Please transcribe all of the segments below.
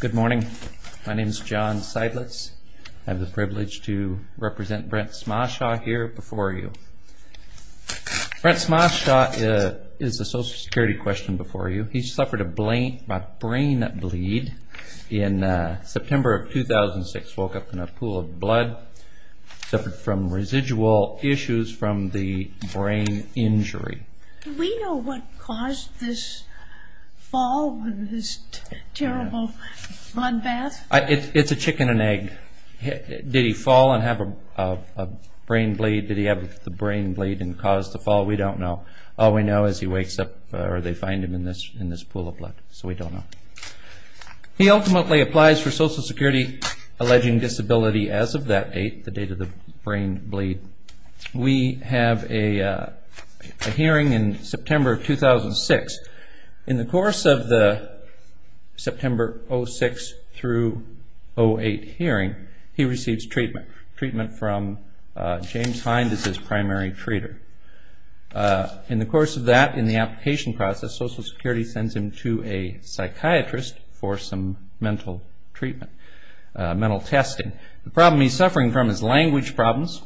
Good morning. My name is John Seidlitz. I have the privilege to represent Brent Schmasow here before you. Brent Schmasow is a social security question before you. He suffered a brain bleed in September of 2006. He woke up in a pool of blood. He suffered from residual issues from the brain injury. Do we know what caused this fall and this terrible bloodbath? It's a chicken and egg. Did he fall and have a brain bleed? Did he have the brain bleed and cause the fall? We don't know. All we know is he wakes up or they find him in this pool of blood, so we don't know. He ultimately applies for social security alleging disability as of that date, the date of the brain bleed. We have a hearing in September of 2006. In the course of the September 06 through 08 hearing, he receives treatment. Treatment from James Hind is his primary treater. In the course of that, in the application process, social security sends him to a psychiatrist for some mental treatment, mental testing. The problem he's suffering from is language problems.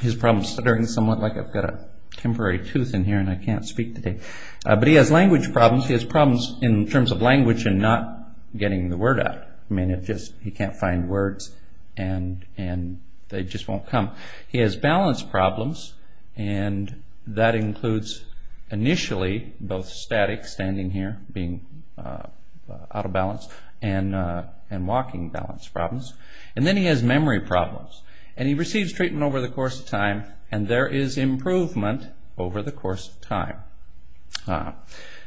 His problem is stuttering somewhat like I've got a temporary tooth in here and I can't speak today. But he has language problems. He has problems in terms of language and not getting the word out. He can't find words and they just won't come. He has balance problems and that includes initially both static, standing here, being out of balance, and walking balance problems. And then he has memory problems. He receives treatment over the course of time and there is improvement over the course of time.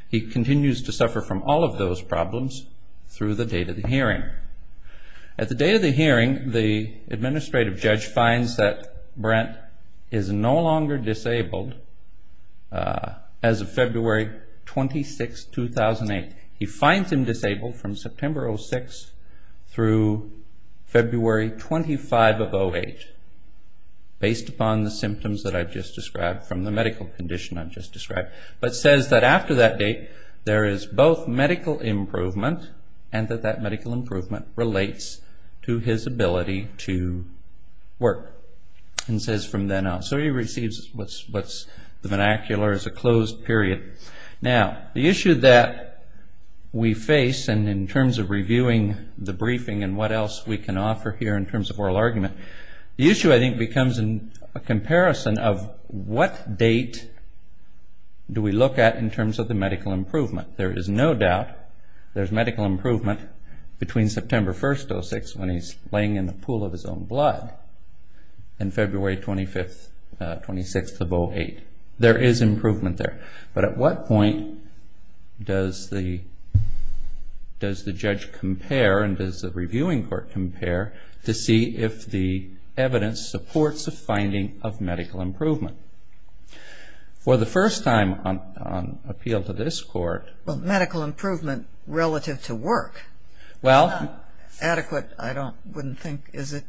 He continues to suffer from all of those problems through the date of the hearing. At the day of the hearing, the administrative judge finds that Brent is no longer disabled as of February 26, 2008. He finds him disabled from September 06 through February 25 of 08, based upon the symptoms that I've just described from the medical condition I've just described. But says that after that date, there is both medical improvement and that that medical improvement relates to his ability to work. And says from then on. So he receives what's the vernacular as a closed period. Now, the issue that we face and in terms of reviewing the briefing and what else we can offer here in terms of oral argument, the issue I think becomes a comparison of what date do we look at in terms of the medical improvement. There is no doubt there's medical improvement between September 1st, 06, when he's laying in the pool of his own blood, and February 26th of 08. There is improvement there. But at what point does the judge compare and does the reviewing court compare to see if the evidence supports the finding of medical improvement? For the first time on appeal to this court. Well, medical improvement relative to work. Well. Adequate, I wouldn't think, is it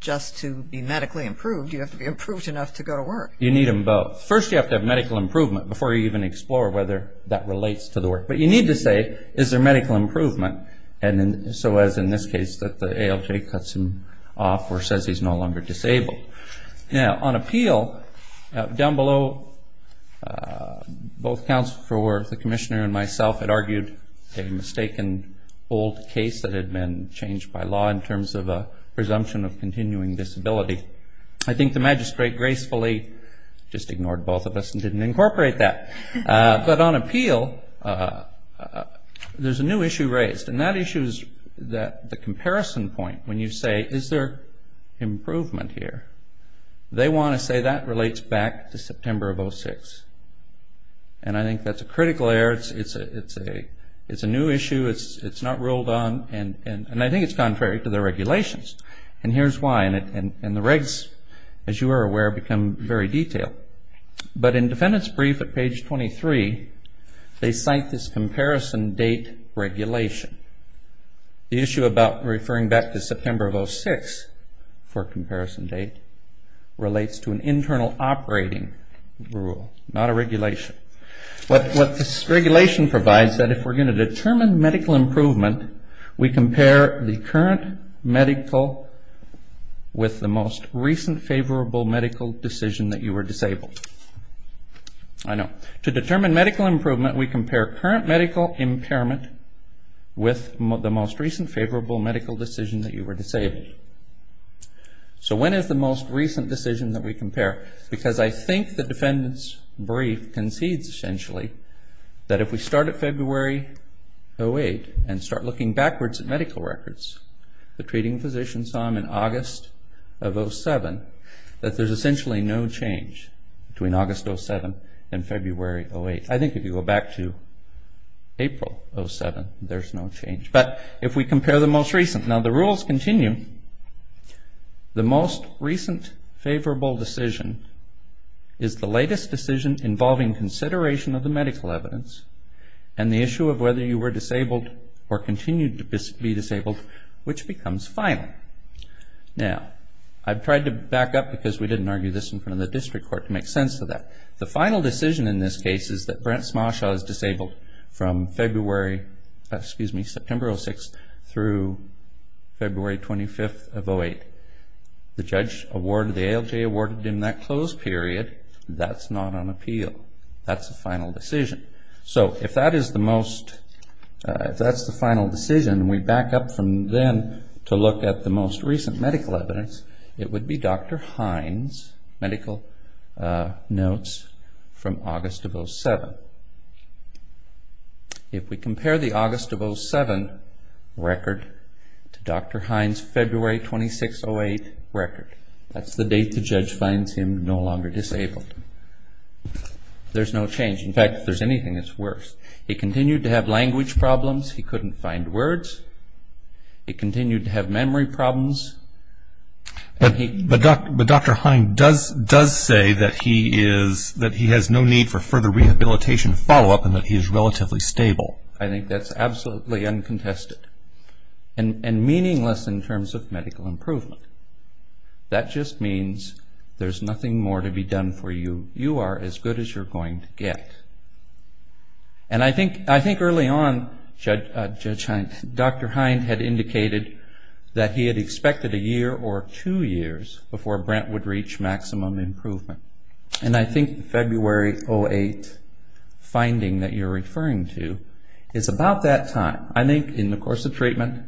just to be medically improved. You have to be improved enough to go to work. You need them both. First, you have to have medical improvement before you even explore whether that relates to the work. But you need to say, is there medical improvement? So as in this case that the ALJ cuts him off or says he's no longer disabled. Now, on appeal, down below, both counsel for the commissioner and myself had argued a mistaken old case that had been changed by law in terms of a presumption of continuing disability. I think the magistrate gracefully just ignored both of us and didn't incorporate that. But on appeal, there's a new issue raised. And that issue is the comparison point when you say, is there improvement here? They want to say that relates back to September of 06. And I think that's a critical error. It's a new issue. It's not ruled on. And I think it's contrary to the regulations. And here's why. And the regs, as you are aware, become very detailed. But in defendant's brief at page 23, they cite this comparison date regulation. The issue about referring back to September of 06 for comparison date relates to an internal operating rule, not a regulation. What this regulation provides is that if we're going to determine medical improvement, we compare the current medical with the most recent favorable medical decision that you were disabled. I know. To determine medical improvement, we compare current medical impairment with the most recent favorable medical decision that you were disabled. So when is the most recent decision that we compare? Because I think the defendant's brief concedes essentially that if we start at February 08 and start looking backwards at medical records, the treating physician saw him in August of 07, that there's essentially no change between August 07 and February 08. I think if you go back to April 07, there's no change. But if we compare the most recent. Now, the rules continue. The most recent favorable decision is the latest decision involving consideration of the medical evidence and the issue of whether you were disabled or continue to be disabled, which becomes final. Now, I've tried to back up because we didn't argue this in front of the district court to make sense of that. The final decision in this case is that Brent Smarshaw is disabled from September 06 through February 25 of 08. The judge awarded, the ALJ awarded him that closed period. That's not on appeal. That's the final decision. So if that is the most, if that's the final decision, we back up from then to look at the most recent medical evidence, it would be Dr. Hines' medical notes from August of 07. If we compare the August of 07 record to Dr. Hines' February 26, 08 record, that's the date the judge finds him no longer disabled. There's no change. In fact, if there's anything, it's worse. He continued to have language problems. He couldn't find words. He continued to have memory problems. But Dr. Hines does say that he has no need for further rehabilitation follow-up and that he is relatively stable. I think that's absolutely uncontested and meaningless in terms of medical improvement. That just means there's nothing more to be done for you. You are as good as you're going to get. And I think early on Dr. Hines had indicated that he had expected a year or two years before Brent would reach maximum improvement. And I think February 08 finding that you're referring to is about that time. I think in the course of treatment,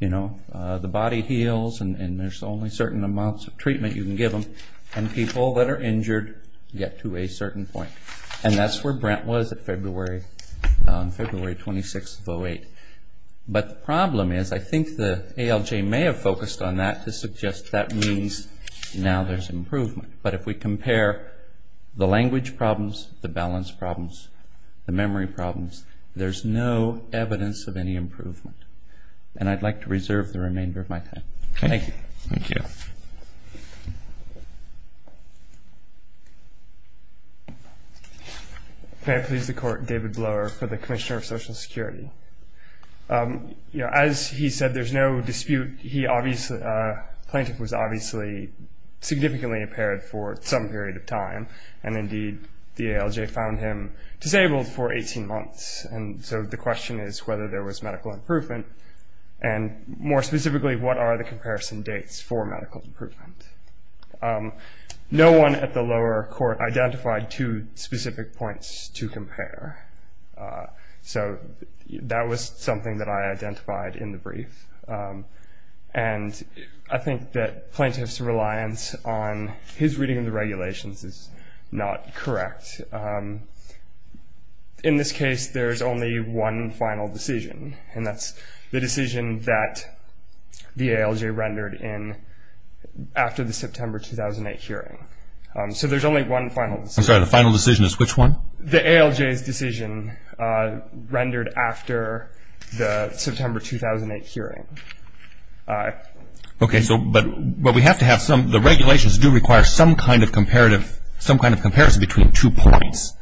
you know, the body heals and there's only certain amounts of treatment you can give them, and people that are injured get to a certain point. And that's where Brent was on February 26 of 08. But the problem is I think the ALJ may have focused on that to suggest that means now there's improvement. But if we compare the language problems, the balance problems, the memory problems, there's no evidence of any improvement. And I'd like to reserve the remainder of my time. Thank you. Thank you. May I please the court, David Blower for the Commissioner of Social Security. As he said, there's no dispute. The plaintiff was obviously significantly impaired for some period of time, and indeed the ALJ found him disabled for 18 months. And so the question is whether there was medical improvement, and more specifically what are the comparison dates for medical improvement. No one at the lower court identified two specific points to compare. So that was something that I identified in the brief. And I think that plaintiff's reliance on his reading of the regulations is not correct. In this case, there's only one final decision, and that's the decision that the ALJ rendered after the September 2008 hearing. So there's only one final decision. I'm sorry, the final decision is which one? The ALJ's decision rendered after the September 2008 hearing. Okay. But we have to have some, the regulations do require some kind of comparison between two points.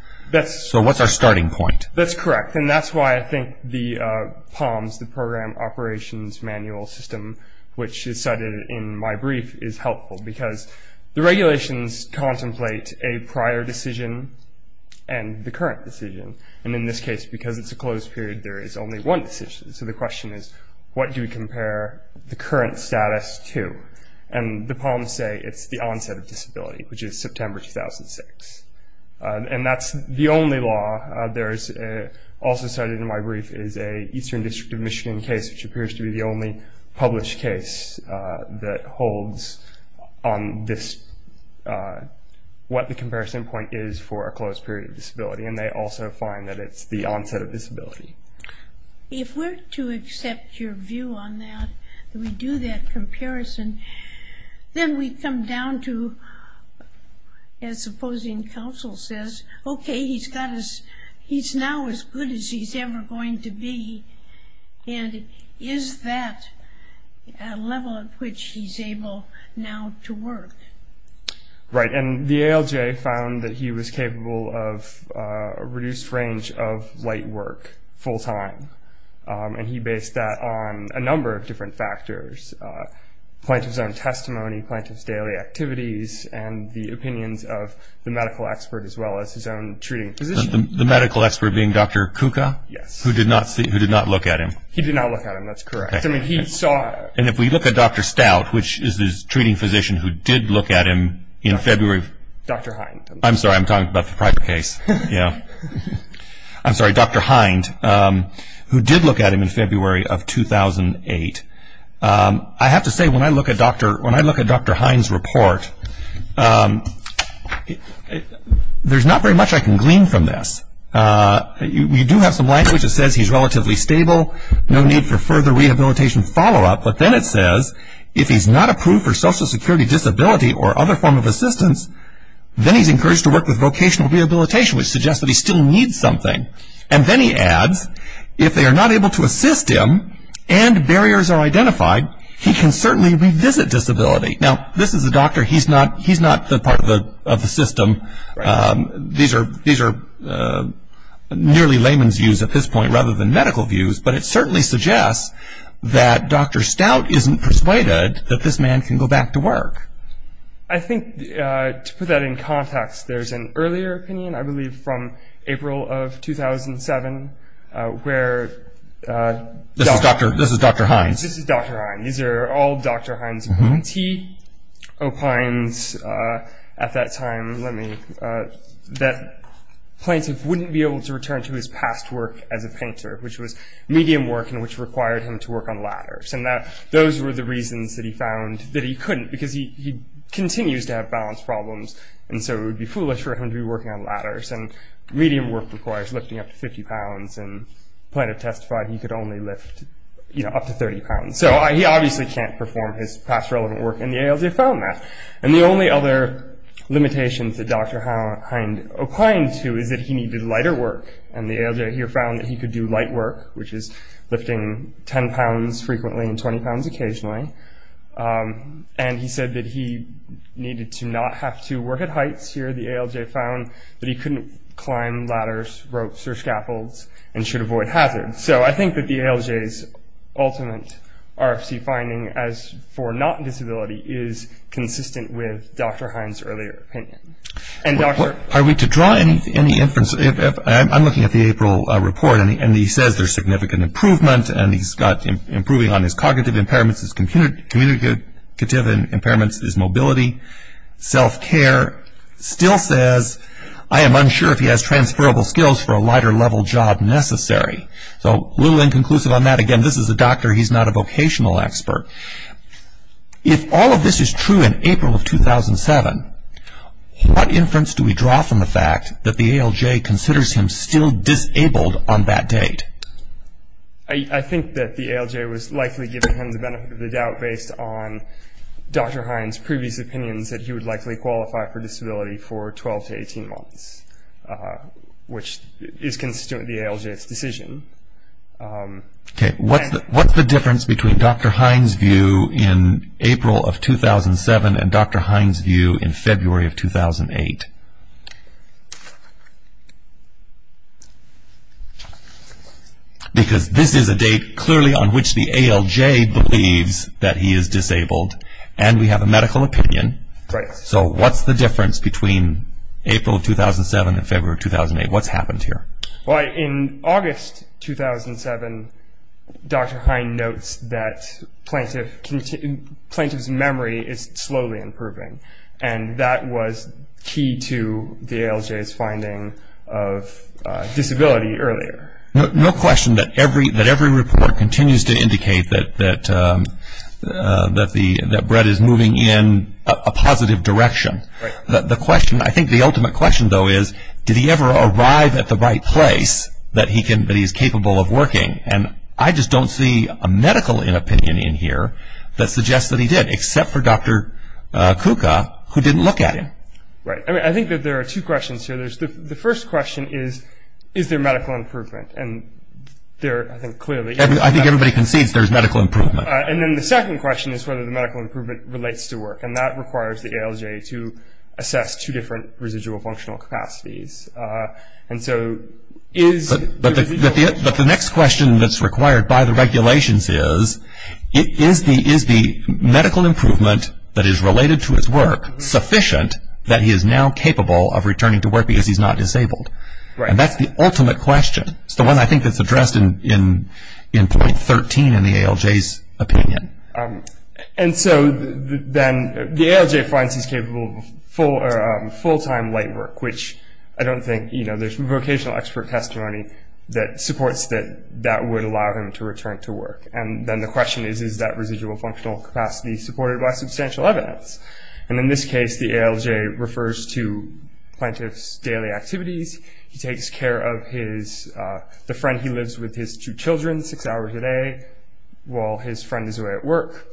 So what's our starting point? That's correct. And that's why I think the POMS, the Program Operations Manual System, which is cited in my brief, is helpful. Because the regulations contemplate a prior decision and the current decision. And in this case, because it's a closed period, there is only one decision. So the question is what do we compare the current status to? And the POMS say it's the onset of disability, which is September 2006. And that's the only law. Also cited in my brief is an Eastern District of Michigan case, which appears to be the only published case that holds on this, what the comparison point is for a closed period of disability. And they also find that it's the onset of disability. If we're to accept your view on that, that we do that comparison, then we come down to, as opposing counsel says, okay, he's now as good as he's ever going to be. And is that a level at which he's able now to work? Right. And the ALJ found that he was capable of a reduced range of light work full time. And he based that on a number of different factors. Plaintiff's own testimony, plaintiff's daily activities, and the opinions of the medical expert as well as his own treating physician. The medical expert being Dr. Kuka? Yes. Who did not look at him. He did not look at him. That's correct. I mean, he saw. And if we look at Dr. Stout, which is his treating physician who did look at him in February. Dr. Hind. I'm sorry, I'm talking about the private case. I'm sorry, Dr. Hind, who did look at him in February of 2008. I have to say, when I look at Dr. Hind's report, there's not very much I can glean from this. You do have some language that says he's relatively stable, no need for further rehabilitation follow-up, but then it says if he's not approved for social security disability or other form of assistance, then he's encouraged to work with vocational rehabilitation, which suggests that he still needs something. And then he adds, if they are not able to assist him and barriers are identified, he can certainly revisit disability. Now, this is a doctor. He's not the part of the system. These are nearly layman's views at this point rather than medical views, but it certainly suggests that Dr. Stout isn't persuaded that this man can go back to work. I think, to put that in context, there's an earlier opinion, I believe from April of 2007, where Dr. This is Dr. Hind. This is Dr. Hind. These are all Dr. Hind's views. He opines at that time that plaintiff wouldn't be able to return to his past work as a painter, which was medium work and which required him to work on ladders, and that those were the reasons that he found that he couldn't because he continues to have balance problems, and so it would be foolish for him to be working on ladders, and medium work requires lifting up to 50 pounds, and plaintiff testified he could only lift up to 30 pounds. So he obviously can't perform his past relevant work, and the ALJ found that. And the only other limitations that Dr. Hind opined to is that he needed lighter work, and the ALJ here found that he could do light work, which is lifting 10 pounds frequently and 20 pounds occasionally, and he said that he needed to not have to work at heights here. The ALJ found that he couldn't climb ladders, ropes, or scaffolds and should avoid hazards. So I think that the ALJ's ultimate RFC finding as for not disability is consistent with Dr. Hind's earlier opinion. Are we to draw any inference? I'm looking at the April report, and he says there's significant improvement, and he's got improving on his cognitive impairments, his communicative impairments, his mobility, self-care. Still says, I am unsure if he has transferable skills for a lighter level job necessary. So a little inconclusive on that. Again, this is a doctor. He's not a vocational expert. If all of this is true in April of 2007, what inference do we draw from the fact that the ALJ considers him still disabled on that date? I think that the ALJ was likely giving him the benefit of the doubt based on Dr. Hind's previous opinions that he would likely qualify for disability for 12 to 18 months, which is consistent with the ALJ's decision. Okay. What's the difference between Dr. Hind's view in April of 2007 and Dr. Hind's view in February of 2008? Because this is a date clearly on which the ALJ believes that he is disabled, and we have a medical opinion. Right. So what's the difference between April of 2007 and February of 2008? What's happened here? Well, in August 2007, Dr. Hind notes that plaintiff's memory is slowly improving, and that was key to the ALJ's finding of disability earlier. No question that every report continues to indicate that Brett is moving in a positive direction. Right. The question, I think the ultimate question, though, is did he ever arrive at the right place that he is capable of working? And I just don't see a medical opinion in here that suggests that he did, except for Dr. Kuka, who didn't look at him. Right. I mean, I think that there are two questions here. The first question is, is there medical improvement? And there, I think, clearly – I think everybody concedes there's medical improvement. And then the second question is whether the medical improvement relates to work, and that requires the ALJ to assess two different residual functional capacities. And so is – But the next question that's required by the regulations is, is the medical improvement that is related to his work sufficient that he is now capable of returning to work because he's not disabled? Right. And that's the ultimate question. It's the one I think that's addressed in point 13 in the ALJ's opinion. And so then the ALJ finds he's capable of full-time light work, which I don't think – you know, there's vocational expert testimony that supports that that would allow him to return to work. And then the question is, is that residual functional capacity supported by substantial evidence? And in this case, the ALJ refers to plaintiff's daily activities. He takes care of his – the friend he lives with, his two children, six hours a day while his friend is away at work.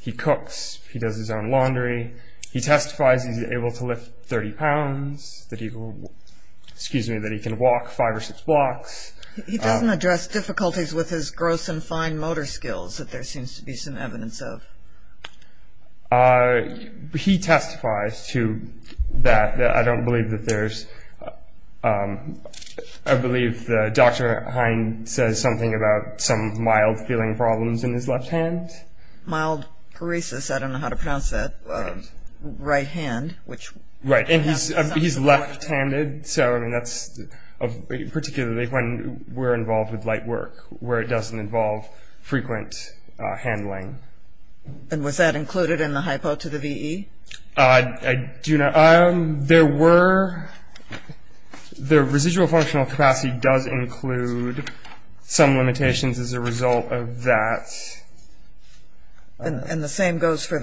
He cooks. He does his own laundry. He testifies he's able to lift 30 pounds, that he – excuse me, that he can walk five or six blocks. He doesn't address difficulties with his gross and fine motor skills that there seems to be some evidence of. He testifies to that. I don't believe that there's – I believe Dr. Hine says something about some mild feeling problems in his left hand. Mild paresis. I don't know how to pronounce that. Right hand, which – Right. And he's left-handed, so I mean that's – particularly when we're involved with light work, where it doesn't involve frequent handling. And was that included in the hypo to the VE? I do not – there were – the residual functional capacity does include some limitations as a result of that. And the same goes for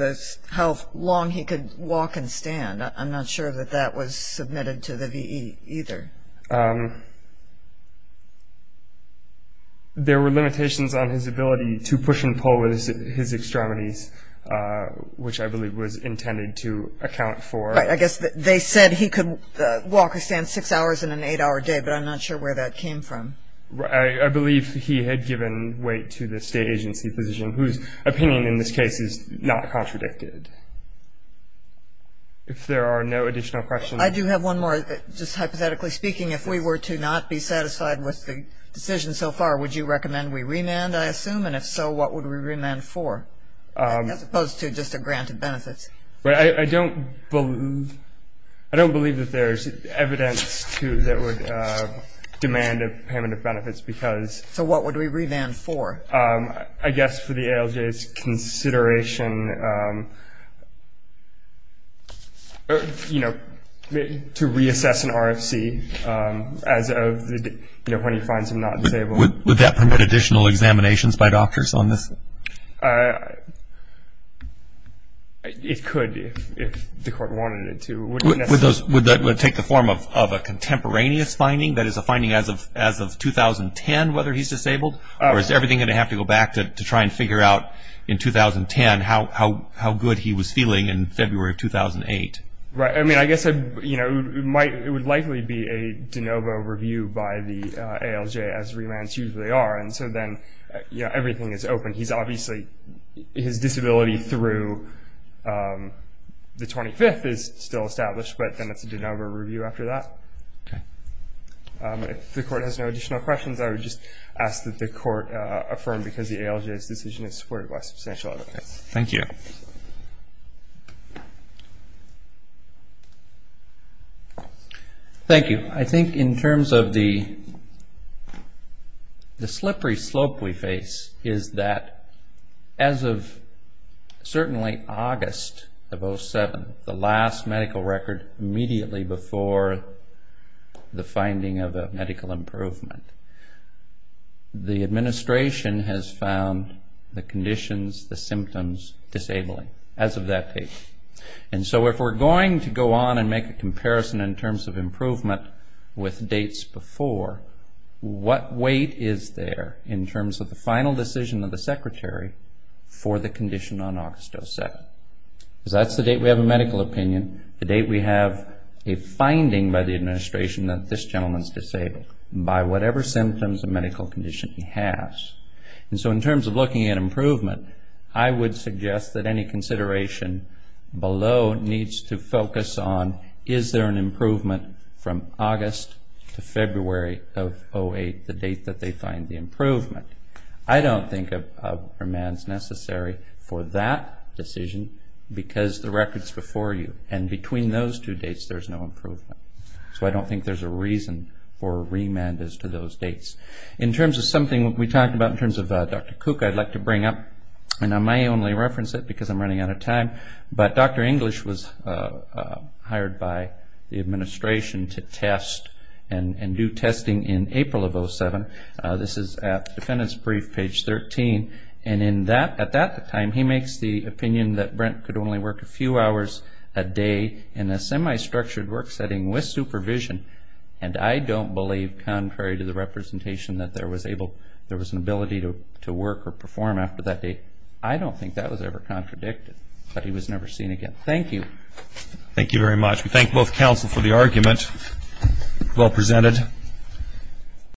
how long he could walk and stand. I'm not sure that that was submitted to the VE either. There were limitations on his ability to push and pull with his extremities, which I believe was intended to account for. Right. I guess they said he could walk or stand six hours in an eight-hour day, but I'm not sure where that came from. I believe he had given weight to the state agency position, whose opinion in this case is not contradicted. If there are no additional questions. I do have one more, just hypothetically speaking. If we were to not be satisfied with the decision so far, would you recommend we remand, I assume? And if so, what would we remand for, as opposed to just a grant of benefits? I don't believe – I don't believe that there's evidence that would demand a payment of benefits because – So what would we remand for? I guess for the ALJ's consideration, you know, to reassess an RFC as of, you know, when he finds him not disabled. Would that permit additional examinations by doctors on this? It could, if the court wanted it to. Would that take the form of a contemporaneous finding, that is, a finding as of 2010, whether he's disabled? Or is everything going to have to go back to try and figure out in 2010 how good he was feeling in February of 2008? Right. I mean, I guess, you know, it would likely be a de novo review by the ALJ, as remands usually are. And so then, you know, everything is open. He's obviously – his disability through the 25th is still established, but then it's a de novo review after that. Okay. If the court has no additional questions, I would just ask that the court affirm, because the ALJ's decision is supported by substantial evidence. Thank you. Thank you. I think in terms of the slippery slope we face is that as of certainly August of 2007, the last medical record immediately before the finding of a medical improvement, the administration has found the conditions, the symptoms disabling as of that date. And so if we're going to go on and make a comparison in terms of improvement with dates before, what weight is there in terms of the final decision of the secretary for the condition on August 2007? Because that's the date we have a medical opinion, the date we have a finding by the administration that this gentleman is disabled, by whatever symptoms and medical condition he has. And so in terms of looking at improvement, I would suggest that any consideration below needs to focus on, is there an improvement from August to February of 2008, the date that they find the improvement. I don't think a remand is necessary for that decision because the record is before you, and between those two dates there's no improvement. So I don't think there's a reason for a remand as to those dates. In terms of something we talked about, in terms of Dr. Cook, I'd like to bring up, and I may only reference it because I'm running out of time, but Dr. English was hired by the administration to test and do testing in April of 2007. This is at the defendant's brief, page 13, and at that time he makes the opinion that Brent could only work a few hours a day in a semi-structured work setting with supervision, and I don't believe, contrary to the representation, that there was an ability to work or perform after that date. I don't think that was ever contradicted, but he was never seen again. Thank you. Thank you very much. We thank both counsel for the argument. Well presented.